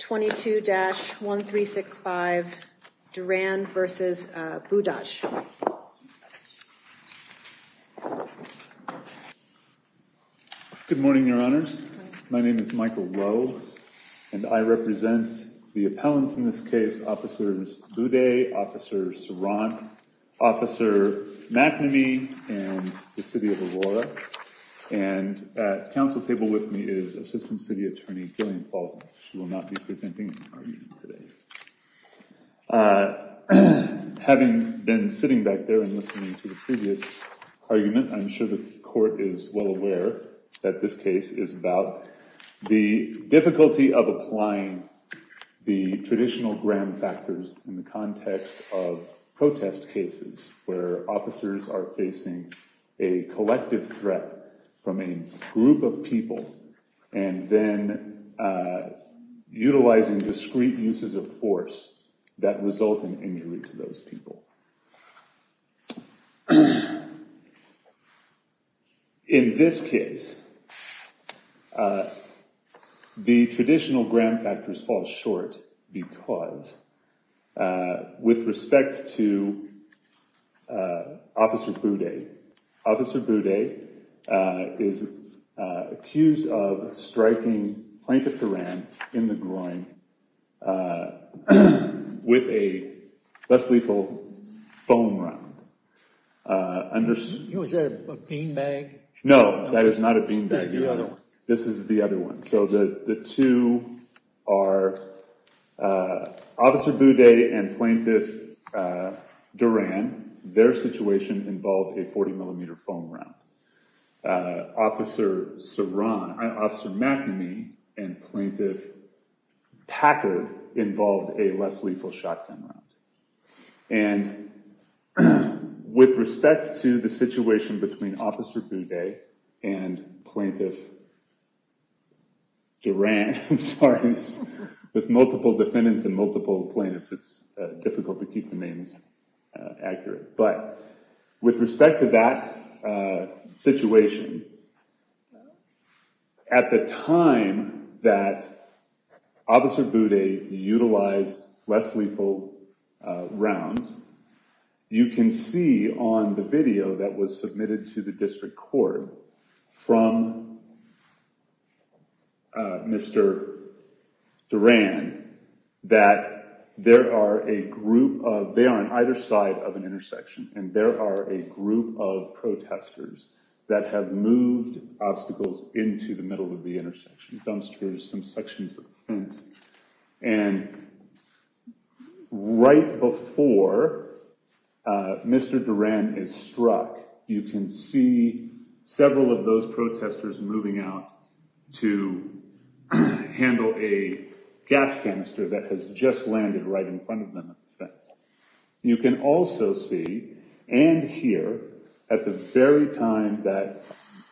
22-1365 Duran v. Budaj Good morning, Your Honors. My name is Michael Rowe and I represent the appellants in this case, Officers Boudet, Officer Sorant, Officer McNamee, and the City of Aurora. And at council table with me is Assistant City Attorney Gillian Paulson. She will not be presenting today. Having been sitting back there and listening to the previous argument, I'm sure the court is well aware that this case is about the difficulty of applying the traditional gram factors in the context of protest cases where officers are facing a collective threat from a group of people and then utilizing discreet uses of force that result in injury to those people. In this case, the traditional gram factors fall short because with respect to Officer Boudet, Officer Boudet is accused of striking Plaintiff Duran in the groin with a less lethal foam round. Was that a beanbag? No, that is not a beanbag either. This is the other one. So the two are Officer Boudet and Plaintiff Duran. Their situation involved a 40 millimeter foam round. Officer Sorant, Officer McNamee, and Plaintiff Packard involved a less lethal shotgun round. And with respect to the situation between Officer Boudet and Plaintiff Duran, I'm sorry, with multiple defendants and multiple plaintiffs, it's difficult to keep the names accurate. But with respect to that situation, at the time that Officer Boudet utilized less lethal rounds, you can see on the video that was submitted to the district court from Mr. Duran that there are a group of, they are on either side of an intersection, and there are a group of protesters that have moved obstacles into the middle of the Mr. Duran is struck, you can see several of those protesters moving out to handle a gas canister that has just landed right in front of them. You can also see and hear at the very time that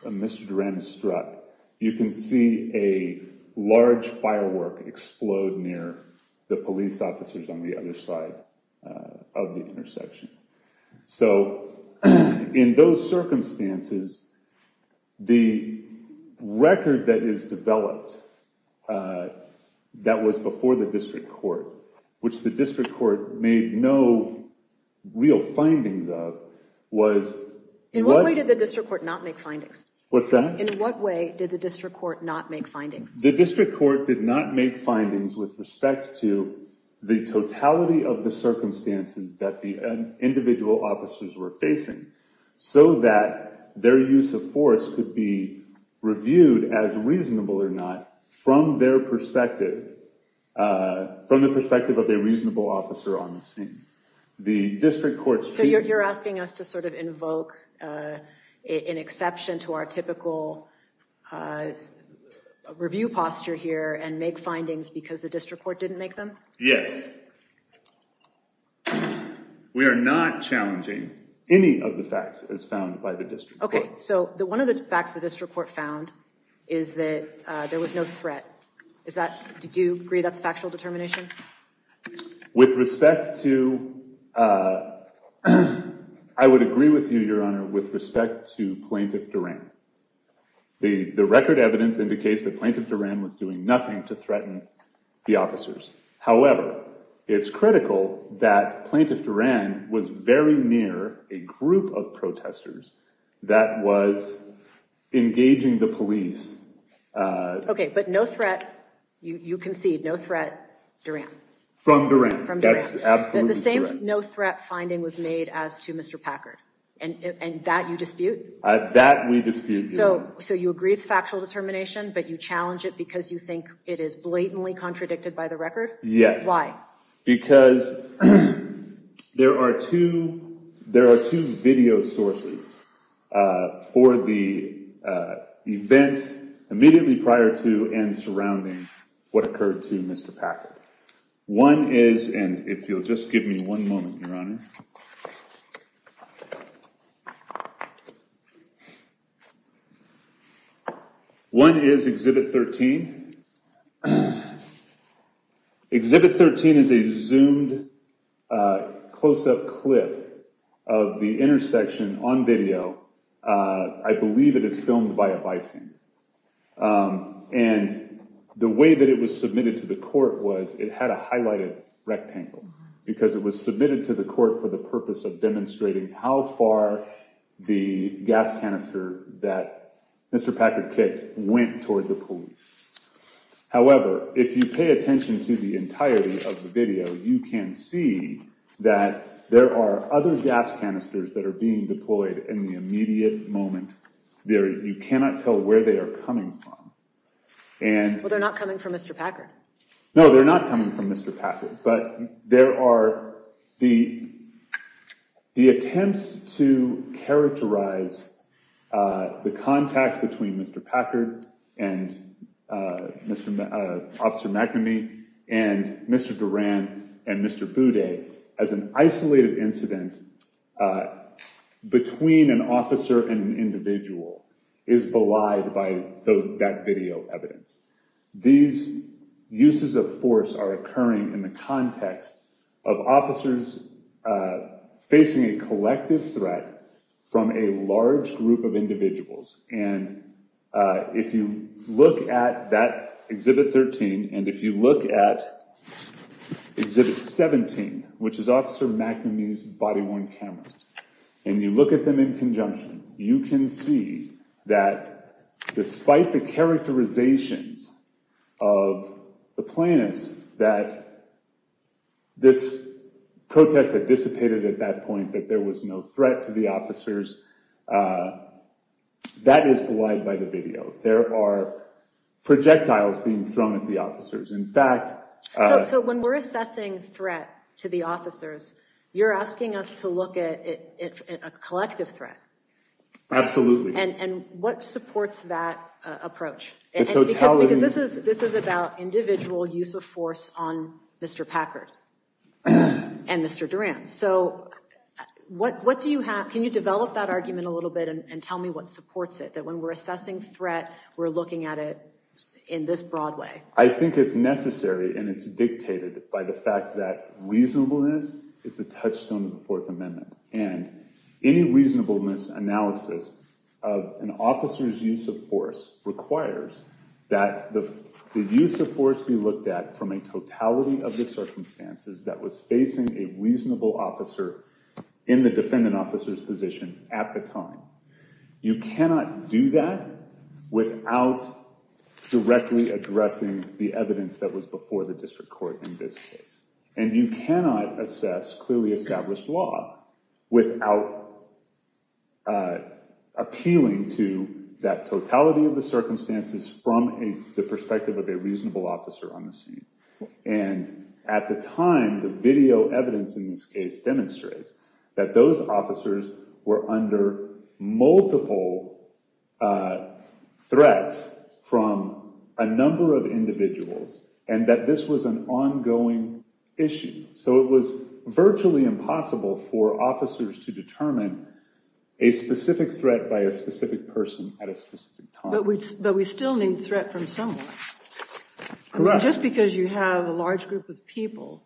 Mr. Duran is struck, you can see a large firework explode near the police officers on the other side of the intersection. So in those circumstances, the record that is developed that was before the district court, which the district court made no real findings of, was... In what way did the district court not make findings? What's that? In what way did the district court not make findings? The totality of the circumstances that the individual officers were facing, so that their use of force could be reviewed as reasonable or not from their perspective, from the perspective of a reasonable officer on the scene. The district court... So you're asking us to sort of invoke an exception to our typical review posture here and make findings because the district court didn't make them? Yes. We are not challenging any of the facts as found by the district court. Okay, so one of the facts the district court found is that there was no threat. Is that... Do you agree that's a factual determination? With respect to... I would agree with you, Your Honor, with respect to Plaintiff Duran. The record evidence indicates that Plaintiff Duran was doing nothing to threaten the officers. However, it's critical that Plaintiff Duran was very near a group of protesters that was engaging the police... Okay, but no threat, you concede, no threat, Duran. From Duran. That's absolutely correct. The same no threat finding was made as to Mr. Packard, and that you dispute? That we dispute, Your Honor. So you agree it's factual determination, but you challenge it because you think it is blatantly contradicted by the record? Yes. Why? Because there are two video sources for the events immediately prior to and surrounding what occurred to Mr. Packard. One is... And if you'll just give me one moment, Your Honor. One is Exhibit 13. Exhibit 13 is a zoomed close-up clip of the intersection on video. I believe it is filmed by a bison. And the way that it was submitted to the court was it had a highlighted rectangle because it was submitted to the court for the purpose of demonstrating how far the gas canister that Mr. Packard kicked went toward the police. However, if you pay attention to the entirety of the video, you can see that there are other gas canisters that are being deployed in the immediate moment. You cannot tell where they are coming from. Well, they're not coming from Mr. Packard. No, they're not coming from Mr. Packard. But there are the attempts to characterize the contact between Mr. Packard and Officer McNamee and Mr. Duran and Mr. Boudet as an isolated incident between an officer and an individual is belied by that video evidence. These uses of force are occurring in the context of officers facing a collective threat from a large group of individuals. And if you look at that Exhibit 13 and if you look at Exhibit 17, which is Officer McNamee's body-worn camera, and you look at them in conjunction, you can see that despite the characterizations of the plaintiffs that this protest had dissipated at that point, that there was no threat to the officers, that is belied by the video. There are projectiles being thrown at the officers. So when we're assessing threat to the officers, you're asking us to look at a collective threat. Absolutely. And what supports that approach? Because this is about individual use of force on Mr. Packard and Mr. Duran. So what do you have? Can you develop that argument a little bit and tell me what supports it? That when we're assessing threat, we're looking at it in this broad way. I think it's necessary and it's dictated by the fact that reasonableness is the touchstone of the Fourth Amendment. And any reasonableness analysis of an officer's use of force requires that the use of force be looked at from a totality of the circumstances that was facing a reasonable officer in the defendant officer's position at the time. You cannot do that without directly addressing the evidence that was before the district court in this case. And you cannot assess clearly established law without appealing to that totality of the circumstances from the perspective of a reasonable officer on the scene. And at the time, the video evidence in this case demonstrates that those officers were under multiple threats from a number of individuals and that this was an ongoing issue. So it was virtually impossible for officers to determine a specific threat by a specific person at a specific time. But we still need threat from someone. Just because you have a large group of people,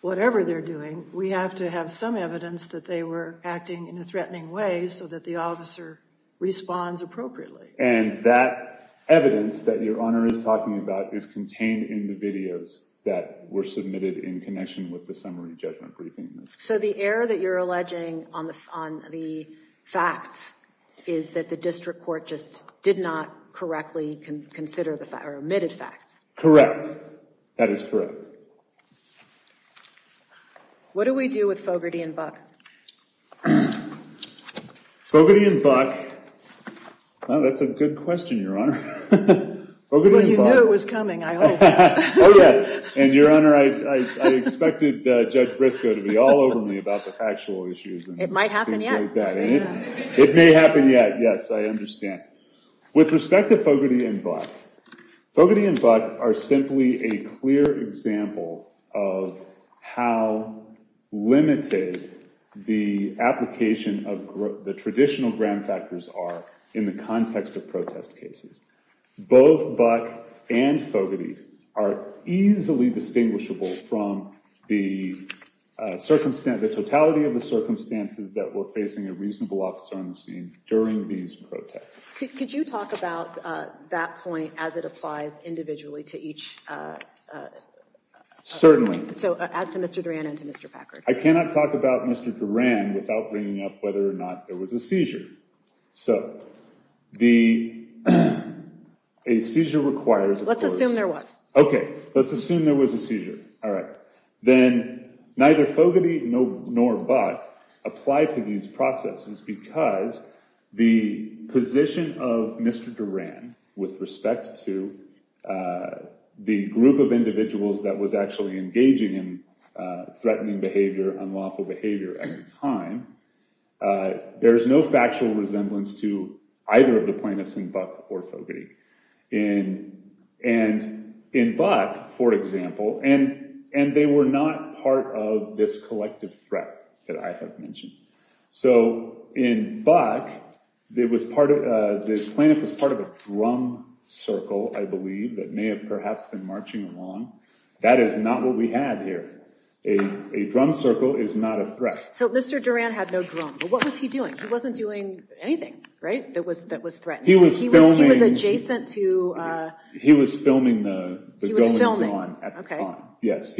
whatever they're doing, we have to have some evidence that they were acting in a threatening way so that the officer responds appropriately. And that evidence that Your Honor is talking about is contained in the videos that were submitted in connection with the summary judgment briefing. So the error that you're alleging on the facts is that the district court just did not correctly consider the omitted facts. Correct. That is correct. What do we do with Fogarty and Buck? Fogarty and Buck. Well, that's a good question, Your Honor. Well, you knew it was coming, I hope. And Your Honor, I expected Judge Briscoe to be all over me about the factual issues. It might happen yet. It may happen yet. Yes, I understand. With respect to Fogarty and Buck, Fogarty and Buck are simply a clear example of how limited the application of the traditional gram factors are in the context of protest cases. Both Buck and Fogarty are easily distinguishable from the totality of the circumstances that were facing a reasonable officer on the scene during these protests. Could you talk about that point as it applies individually to each? Certainly. So as to Mr. Duran and to Mr. Packard. I cannot talk about Mr. Duran without bringing up whether or not there was a seizure. So a seizure requires... Let's assume there was. Okay. Let's assume there was a seizure. All right. Then neither Fogarty nor Buck apply to these processes because the position of Mr. Duran with respect to the group of individuals that was actually engaging in threatening behavior, unlawful behavior at the time, there is no factual resemblance to either of the plaintiffs in Buck or Fogarty. In Buck, for example, and they were not part of this collective threat that I have mentioned. So in Buck, the plaintiff was part of a drum circle, I believe, that may have perhaps been marching along. That is not what we had here. A drum circle is not a threat. So Mr. Duran had no drum. But what was he doing? He wasn't doing anything, right, that was threatening. He was adjacent to... He was filming the goings-on at the time. Okay. Yes.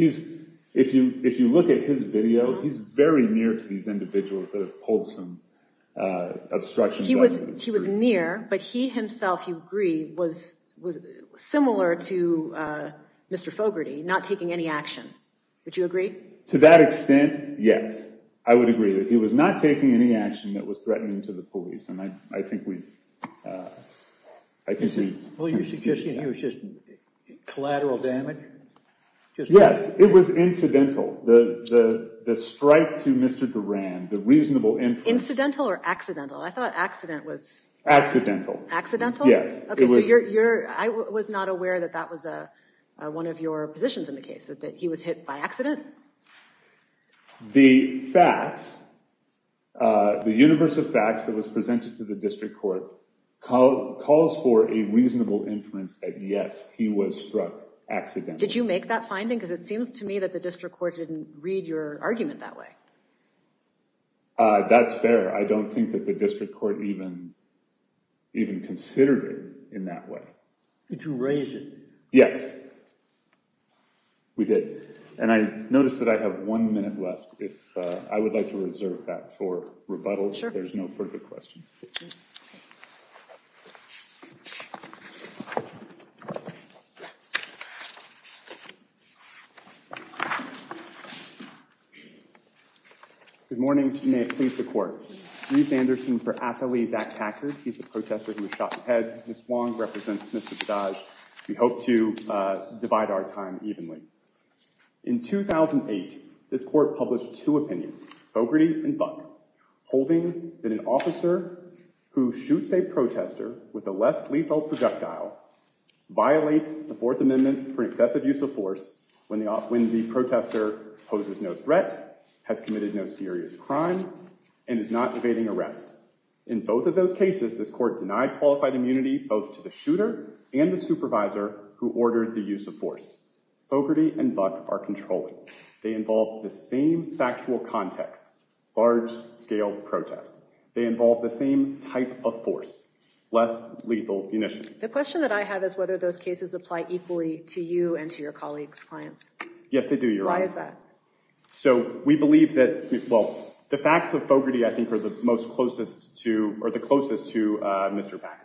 If you look at his video, he's very near to these individuals that have pulled some obstructions on him. He was near, but he himself, you agree, was similar to Mr. Fogarty, not taking any action. Would you agree? To that extent, yes. I would agree that he was not taking any action that was threatening to the police. And I think we... Well, you're suggesting he was just collateral damage? Yes, it was incidental. The strike to Mr. Duran, the reasonable... Incidental or accidental? I thought accident was... Accidental. Accidental? Yes. Okay, so I was not aware that that was one of your positions in the case, that he was hit by accident? The facts... The universe of facts that was presented to the district court calls for a reasonable inference that yes, he was struck accidentally. Did you make that finding? Because it seems to me that the district court didn't read your argument that way. That's fair. I don't think that the district court even considered it in that way. Did you raise it? Yes. We did. And I noticed that I have one minute left. I would like to reserve that for rebuttal. Sure. There's no further questions. Good morning. May it please the court. In 2008, this court published two opinions, Fogarty and Buck, holding that an officer who shoots a protester with a less lethal projectile violates the Fourth Amendment for excessive use of force when the protester poses no threat, has committed no serious crime, and is not evading arrest. In both of those cases, this court denied qualified immunity both to the shooter and the supervisor who ordered the use of force. Fogarty and Buck are controlling. They involve the same factual context, large-scale protest. They involve the same type of force, less lethal munitions. The question that I have is whether those cases apply equally to you and to your colleagues, clients. Yes, they do, Your Honor. Why is that? So we believe that—well, the facts of Fogarty I think are the closest to Mr. Buck.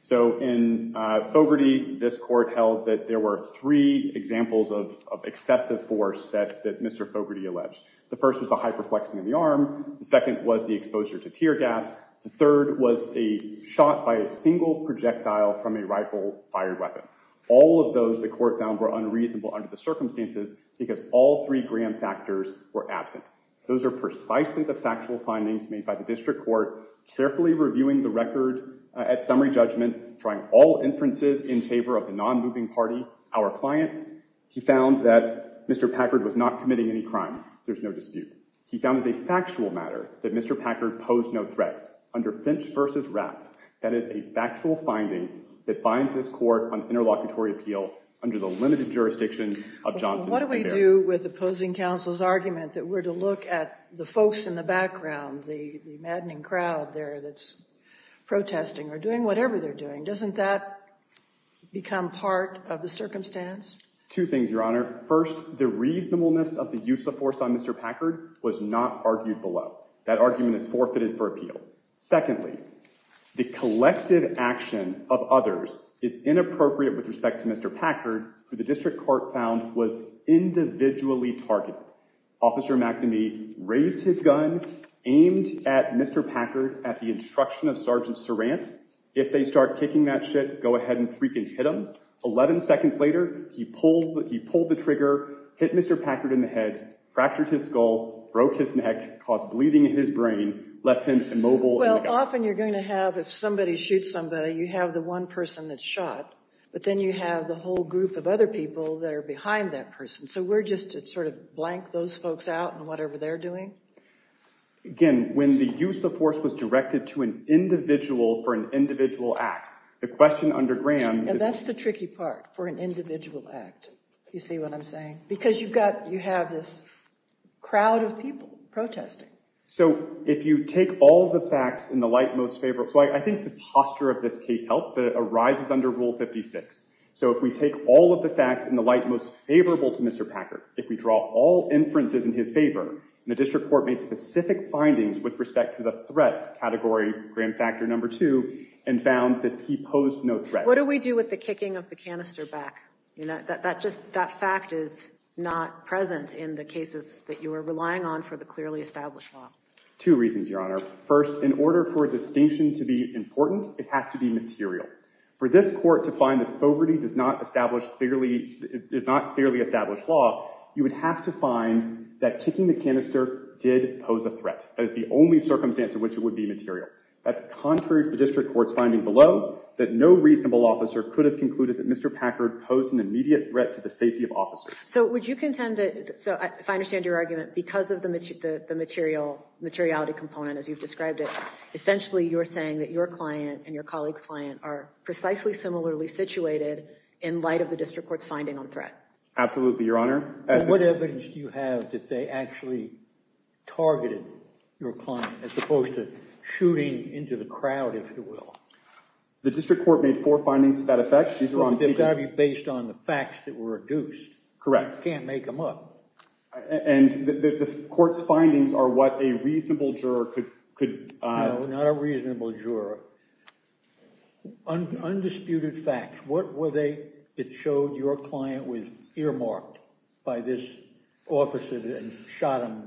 So in Fogarty, this court held that there were three examples of excessive force that Mr. Fogarty alleged. The first was the hyperflexing of the arm. The second was the exposure to tear gas. The third was a shot by a single projectile from a rifle-fired weapon. All of those, the court found, were unreasonable under the circumstances because all three Graham factors were absent. Those are precisely the factual findings made by the district court, carefully reviewing the record at summary judgment, trying all inferences in favor of the non-moving party, our clients. He found that Mr. Packard was not committing any crime. There's no dispute. He found as a factual matter that Mr. Packard posed no threat. Under Finch v. Rapp, that is a factual finding that binds this court on interlocutory appeal under the limited jurisdiction of Johnson and Baird. But what do we do with opposing counsel's argument that we're to look at the folks in the background, the maddening crowd there that's protesting or doing whatever they're doing? Doesn't that become part of the circumstance? Two things, Your Honor. First, the reasonableness of the use of force on Mr. Packard was not argued below. That argument is forfeited for appeal. Secondly, the collective action of others is inappropriate with respect to Mr. Packard, who the district court found was individually targeted. Officer McNamee raised his gun, aimed at Mr. Packard at the instruction of Sergeant Surrant. If they start kicking that shit, go ahead and freaking hit him. Eleven seconds later, he pulled the trigger, hit Mr. Packard in the head, fractured his skull, broke his neck, caused bleeding in his brain, left him immobile in the gun. Well, often you're going to have, if somebody shoots somebody, you have the one person that's shot, but then you have the whole group of other people that are behind that person. So we're just to sort of blank those folks out in whatever they're doing? Again, when the use of force was directed to an individual for an individual act, the question under Graham is— And that's the tricky part, for an individual act. You see what I'm saying? Because you have this crowd of people protesting. So if you take all the facts in the light most favorable— So I think the posture of this case helped that it arises under Rule 56. So if we take all of the facts in the light most favorable to Mr. Packard, if we draw all inferences in his favor, and the district court made specific findings with respect to the threat category, Graham Factor No. 2, and found that he posed no threat— What do we do with the kicking of the canister back? That fact is not present in the cases that you are relying on for the clearly established law. Two reasons, Your Honor. First, in order for a distinction to be important, it has to be material. For this court to find that poverty is not clearly established law, you would have to find that kicking the canister did pose a threat. That is the only circumstance in which it would be material. That's contrary to the district court's finding below, that no reasonable officer could have concluded that Mr. Packard posed an immediate threat to the safety of officers. So would you contend that—so if I understand your argument, because of the materiality component as you've described it, essentially you're saying that your client and your colleague's client are precisely similarly situated in light of the district court's finding on threat. Absolutely, Your Honor. What evidence do you have that they actually targeted your client as opposed to shooting into the crowd, if you will? The district court made four findings to that effect. They've got to be based on the facts that were reduced. Correct. You can't make them up. And the court's findings are what a reasonable juror could— No, not a reasonable juror. Undisputed facts. What were they that showed your client was earmarked by this officer and shot him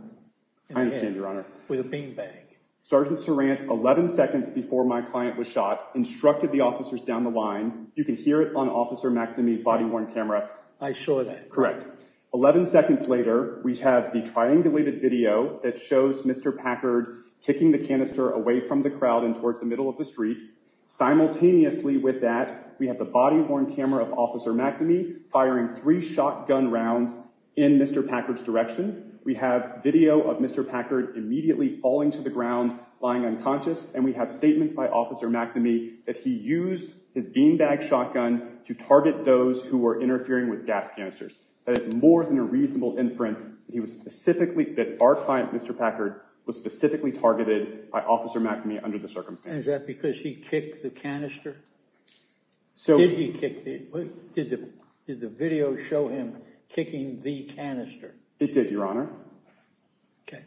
in the head? I understand, Your Honor. With a bean bag. Sergeant Sarant, 11 seconds before my client was shot, instructed the officers down the line. You can hear it on Officer McNamee's body-worn camera. I assure that. Correct. Eleven seconds later, we have the triangulated video that shows Mr. Packard kicking the canister away from the crowd and towards the middle of the street. Simultaneously with that, we have the body-worn camera of Officer McNamee firing three shotgun rounds in Mr. Packard's direction. We have video of Mr. Packard immediately falling to the ground, lying unconscious, and we have statements by Officer McNamee that he used his bean bag shotgun to target those who were interfering with gas canisters. That is more than a reasonable inference that our client, Mr. Packard, was specifically targeted by Officer McNamee under the circumstances. And is that because he kicked the canister? Did the video show him kicking the canister? It did, Your Honor. Okay.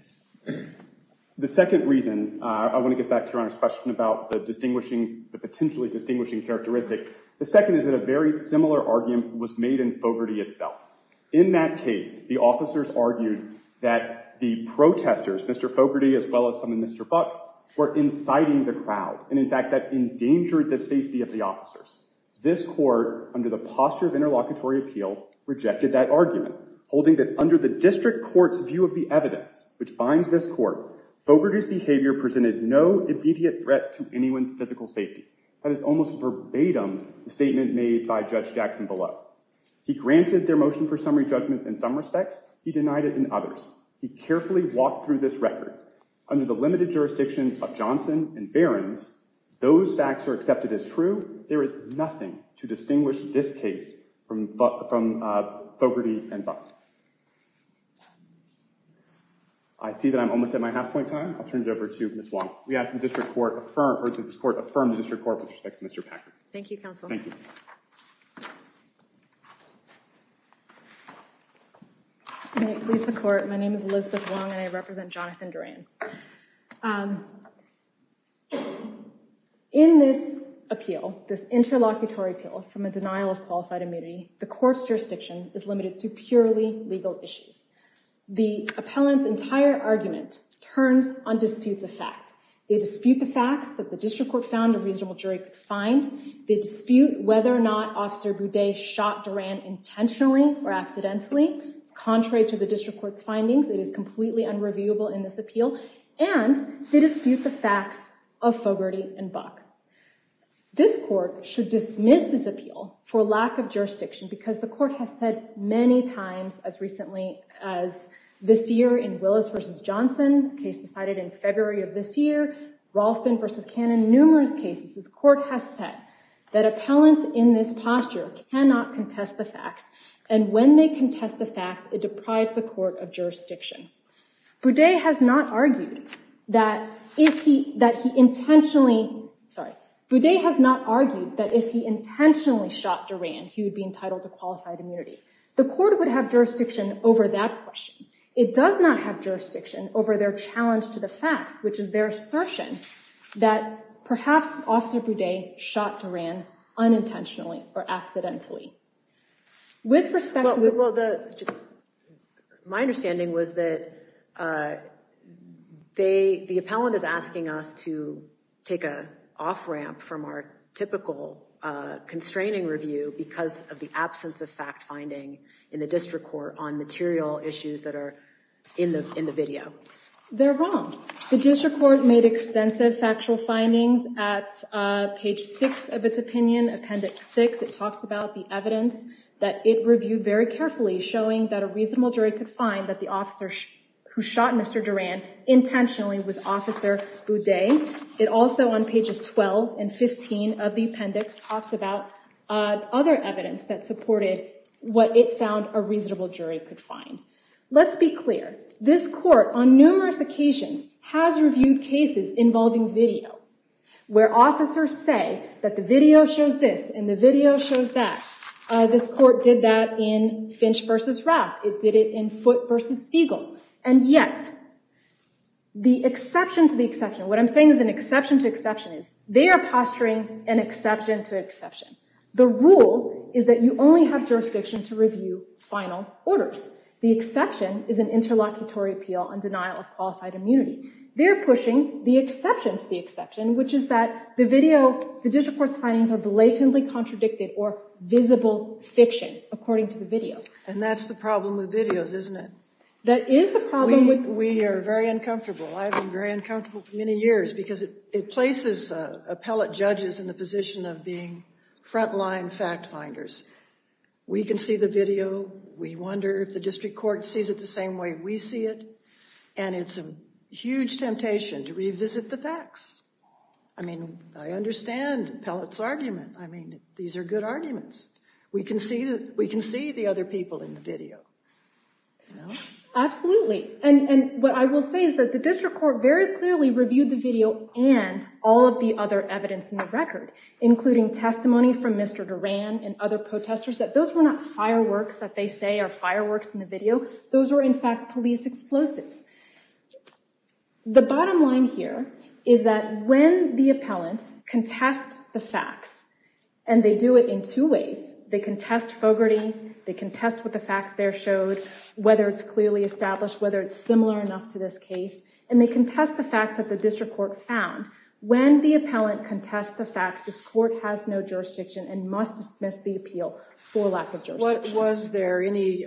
The second reason, I want to get back to Your Honor's question about the potentially distinguishing characteristic, the second is that a very similar argument was made in Fogarty itself. In that case, the officers argued that the protesters, Mr. Fogarty as well as some in Mr. Buck, were inciting the crowd, and in fact that endangered the safety of the officers. This court, under the posture of interlocutory appeal, rejected that argument, holding that under the district court's view of the evidence which binds this court, Fogarty's behavior presented no immediate threat to anyone's physical safety. That is almost verbatim the statement made by Judge Jackson below. He granted their motion for summary judgment in some respects. He denied it in others. He carefully walked through this record. Under the limited jurisdiction of Johnson and Behrens, those facts are accepted as true. There is nothing to distinguish this case from Fogarty and Buck. I see that I'm almost at my half point time. I'll turn it over to Ms. Wong. We ask that this court affirm the district court with respect to Mr. Packard. Thank you, counsel. Thank you. May it please the court, my name is Elizabeth Wong and I represent Jonathan Duran. In this appeal, this interlocutory appeal from a denial of qualified immunity, the court's jurisdiction is limited to purely legal issues. The appellant's entire argument turns on disputes of fact. They dispute the facts that the district court found a reasonable jury could find. They dispute whether or not Officer Boudet shot Duran intentionally or accidentally. It's contrary to the district court's findings. It is completely unreviewable in this appeal. And they dispute the facts of Fogarty and Buck. This court should dismiss this appeal for lack of jurisdiction because the court has said many times as recently as this year in Willis v. Johnson, the case decided in February of this year, Ralston v. Cannon, numerous cases, this court has said that appellants in this posture cannot contest the facts. And when they contest the facts, it deprives the court of jurisdiction. Boudet has not argued that if he intentionally shot Duran, he would be entitled to qualified immunity. The court would have jurisdiction over that question. It does not have jurisdiction over their challenge to the facts, which is their assertion that perhaps Officer Boudet shot Duran unintentionally or accidentally. My understanding was that the appellant is asking us to take an off-ramp from our typical constraining review because of the absence of fact-finding in the district court on material issues that are in the video. They're wrong. The district court made extensive factual findings at page 6 of its opinion, appendix 6. It talked about the evidence that it reviewed very carefully, showing that a reasonable jury could find that the officer who shot Mr. Duran intentionally was Officer Boudet. It also, on pages 12 and 15 of the appendix, talked about other evidence that supported what it found a reasonable jury could find. Let's be clear. This court, on numerous occasions, has reviewed cases involving video where officers say that the video shows this and the video shows that. This court did that in Finch v. Rapp. It did it in Foote v. Spiegel. And yet the exception to the exception, what I'm saying is an exception to exception, is they are posturing an exception to exception. The rule is that you only have jurisdiction to review final orders. The exception is an interlocutory appeal on denial of qualified immunity. They're pushing the exception to the exception, which is that the video, the district court's findings are blatantly contradicted or visible fiction, according to the video. And that's the problem with videos, isn't it? That is the problem. We are very uncomfortable. I've been very uncomfortable for many years because it places appellate judges in the position of being front-line fact-finders. We can see the video. We wonder if the district court sees it the same way we see it, and it's a huge temptation to revisit the facts. I mean, I understand Pellett's argument. I mean, these are good arguments. We can see the other people in the video. Absolutely. And what I will say is that the district court very clearly reviewed the video and all of the other evidence in the record, including testimony from Mr. Duran and other protesters, that those were not fireworks that they say are fireworks in the video. Those were, in fact, police explosives. The bottom line here is that when the appellants contest the facts, and they do it in two ways, they contest Fogarty, they contest what the facts there showed, whether it's clearly established, whether it's similar enough to this case, and they contest the facts that the district court found. When the appellant contests the facts, this court has no jurisdiction and must dismiss the appeal for lack of jurisdiction. Was there any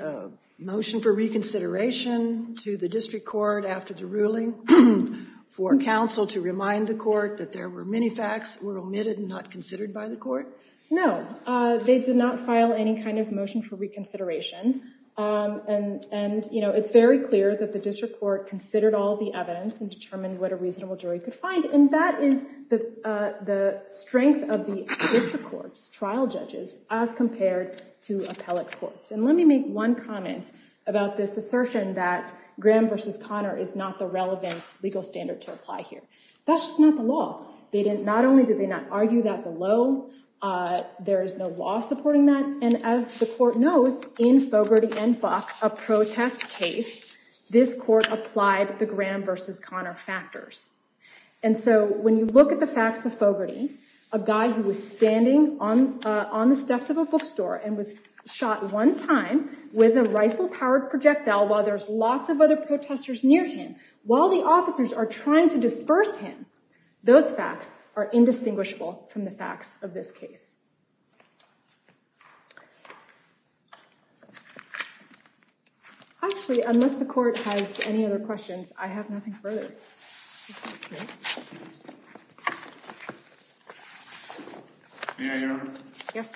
motion for reconsideration to the district court after the ruling for counsel to remind the court that there were many facts that were omitted and not considered by the court? No. They did not file any kind of motion for reconsideration, and it's very clear that the district court considered all the evidence and determined what a reasonable jury could find, and that is the strength of the district court's trial judges as compared to appellate courts. And let me make one comment about this assertion that Graham v. Conner is not the relevant legal standard to apply here. That's just not the law. Not only did they not argue that below, there is no law supporting that, and as the court knows, in Fogarty and Buck, a protest case, this court applied the Graham v. Conner factors. And so when you look at the facts of Fogarty, a guy who was standing on the steps of a bookstore and was shot one time with a rifle-powered projectile while there's lots of other protesters near him, while the officers are trying to disperse him, those facts are indistinguishable from the facts of this case. Actually, unless the court has any other questions, I have nothing further. May I interrupt? Yes.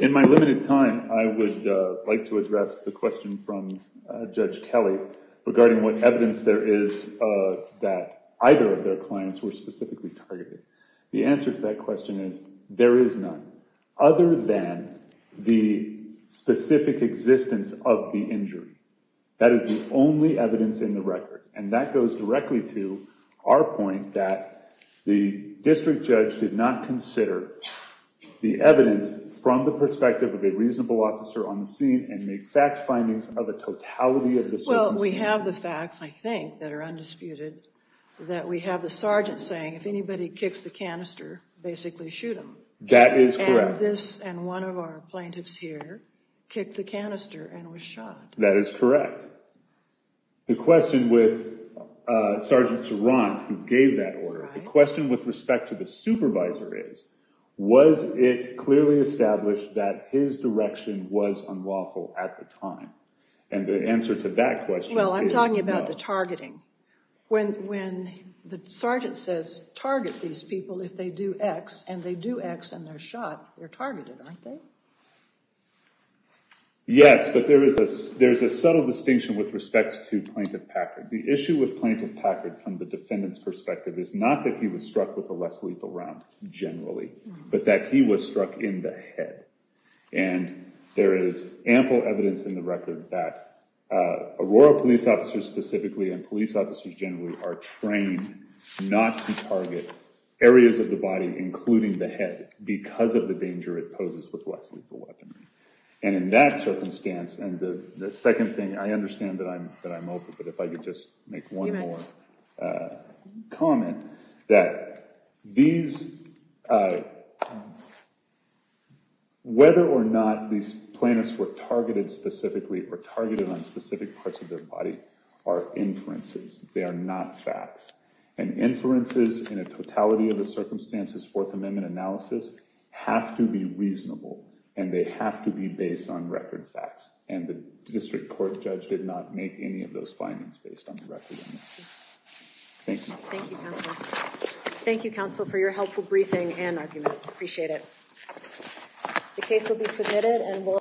In my limited time, I would like to address the question from Judge Kelly regarding what evidence there is that either of their clients were specifically targeted. The answer to that question is there is none, other than the specific existence of the injury. That is the only evidence in the record, and that goes directly to our point that the district judge did not consider the evidence from the perspective of a reasonable officer on the scene and make fact findings of a totality of the circumstances. Well, we have the facts, I think, that are undisputed, that we have the sergeant saying, if anybody kicks the canister, basically shoot them. That is correct. And this and one of our plaintiffs here kicked the canister and was shot. That is correct. The question with Sergeant Sorant, who gave that order, the question with respect to the supervisor is, was it clearly established that his direction was unlawful at the time? And the answer to that question is no. Well, I'm talking about the targeting. When the sergeant says, target these people if they do X, and they do X and they're shot, they're targeted, aren't they? Yes, but there is a subtle distinction with respect to Plaintiff Packard. The issue with Plaintiff Packard from the defendant's perspective is not that he was struck with a less lethal round generally, but that he was struck in the head. And there is ample evidence in the record that Aurora police officers specifically because of the danger it poses with less lethal weaponry. And in that circumstance, and the second thing, I understand that I'm open, but if I could just make one more comment, that whether or not these plaintiffs were targeted specifically or targeted on specific parts of their body are inferences. They are not facts. And inferences in a totality of the circumstances Fourth Amendment analysis have to be reasonable, and they have to be based on record facts. And the district court judge did not make any of those findings based on the record in this case. Thank you. Thank you, counsel. Thank you, counsel, for your helpful briefing and argument. Appreciate it. The case will be submitted and we'll...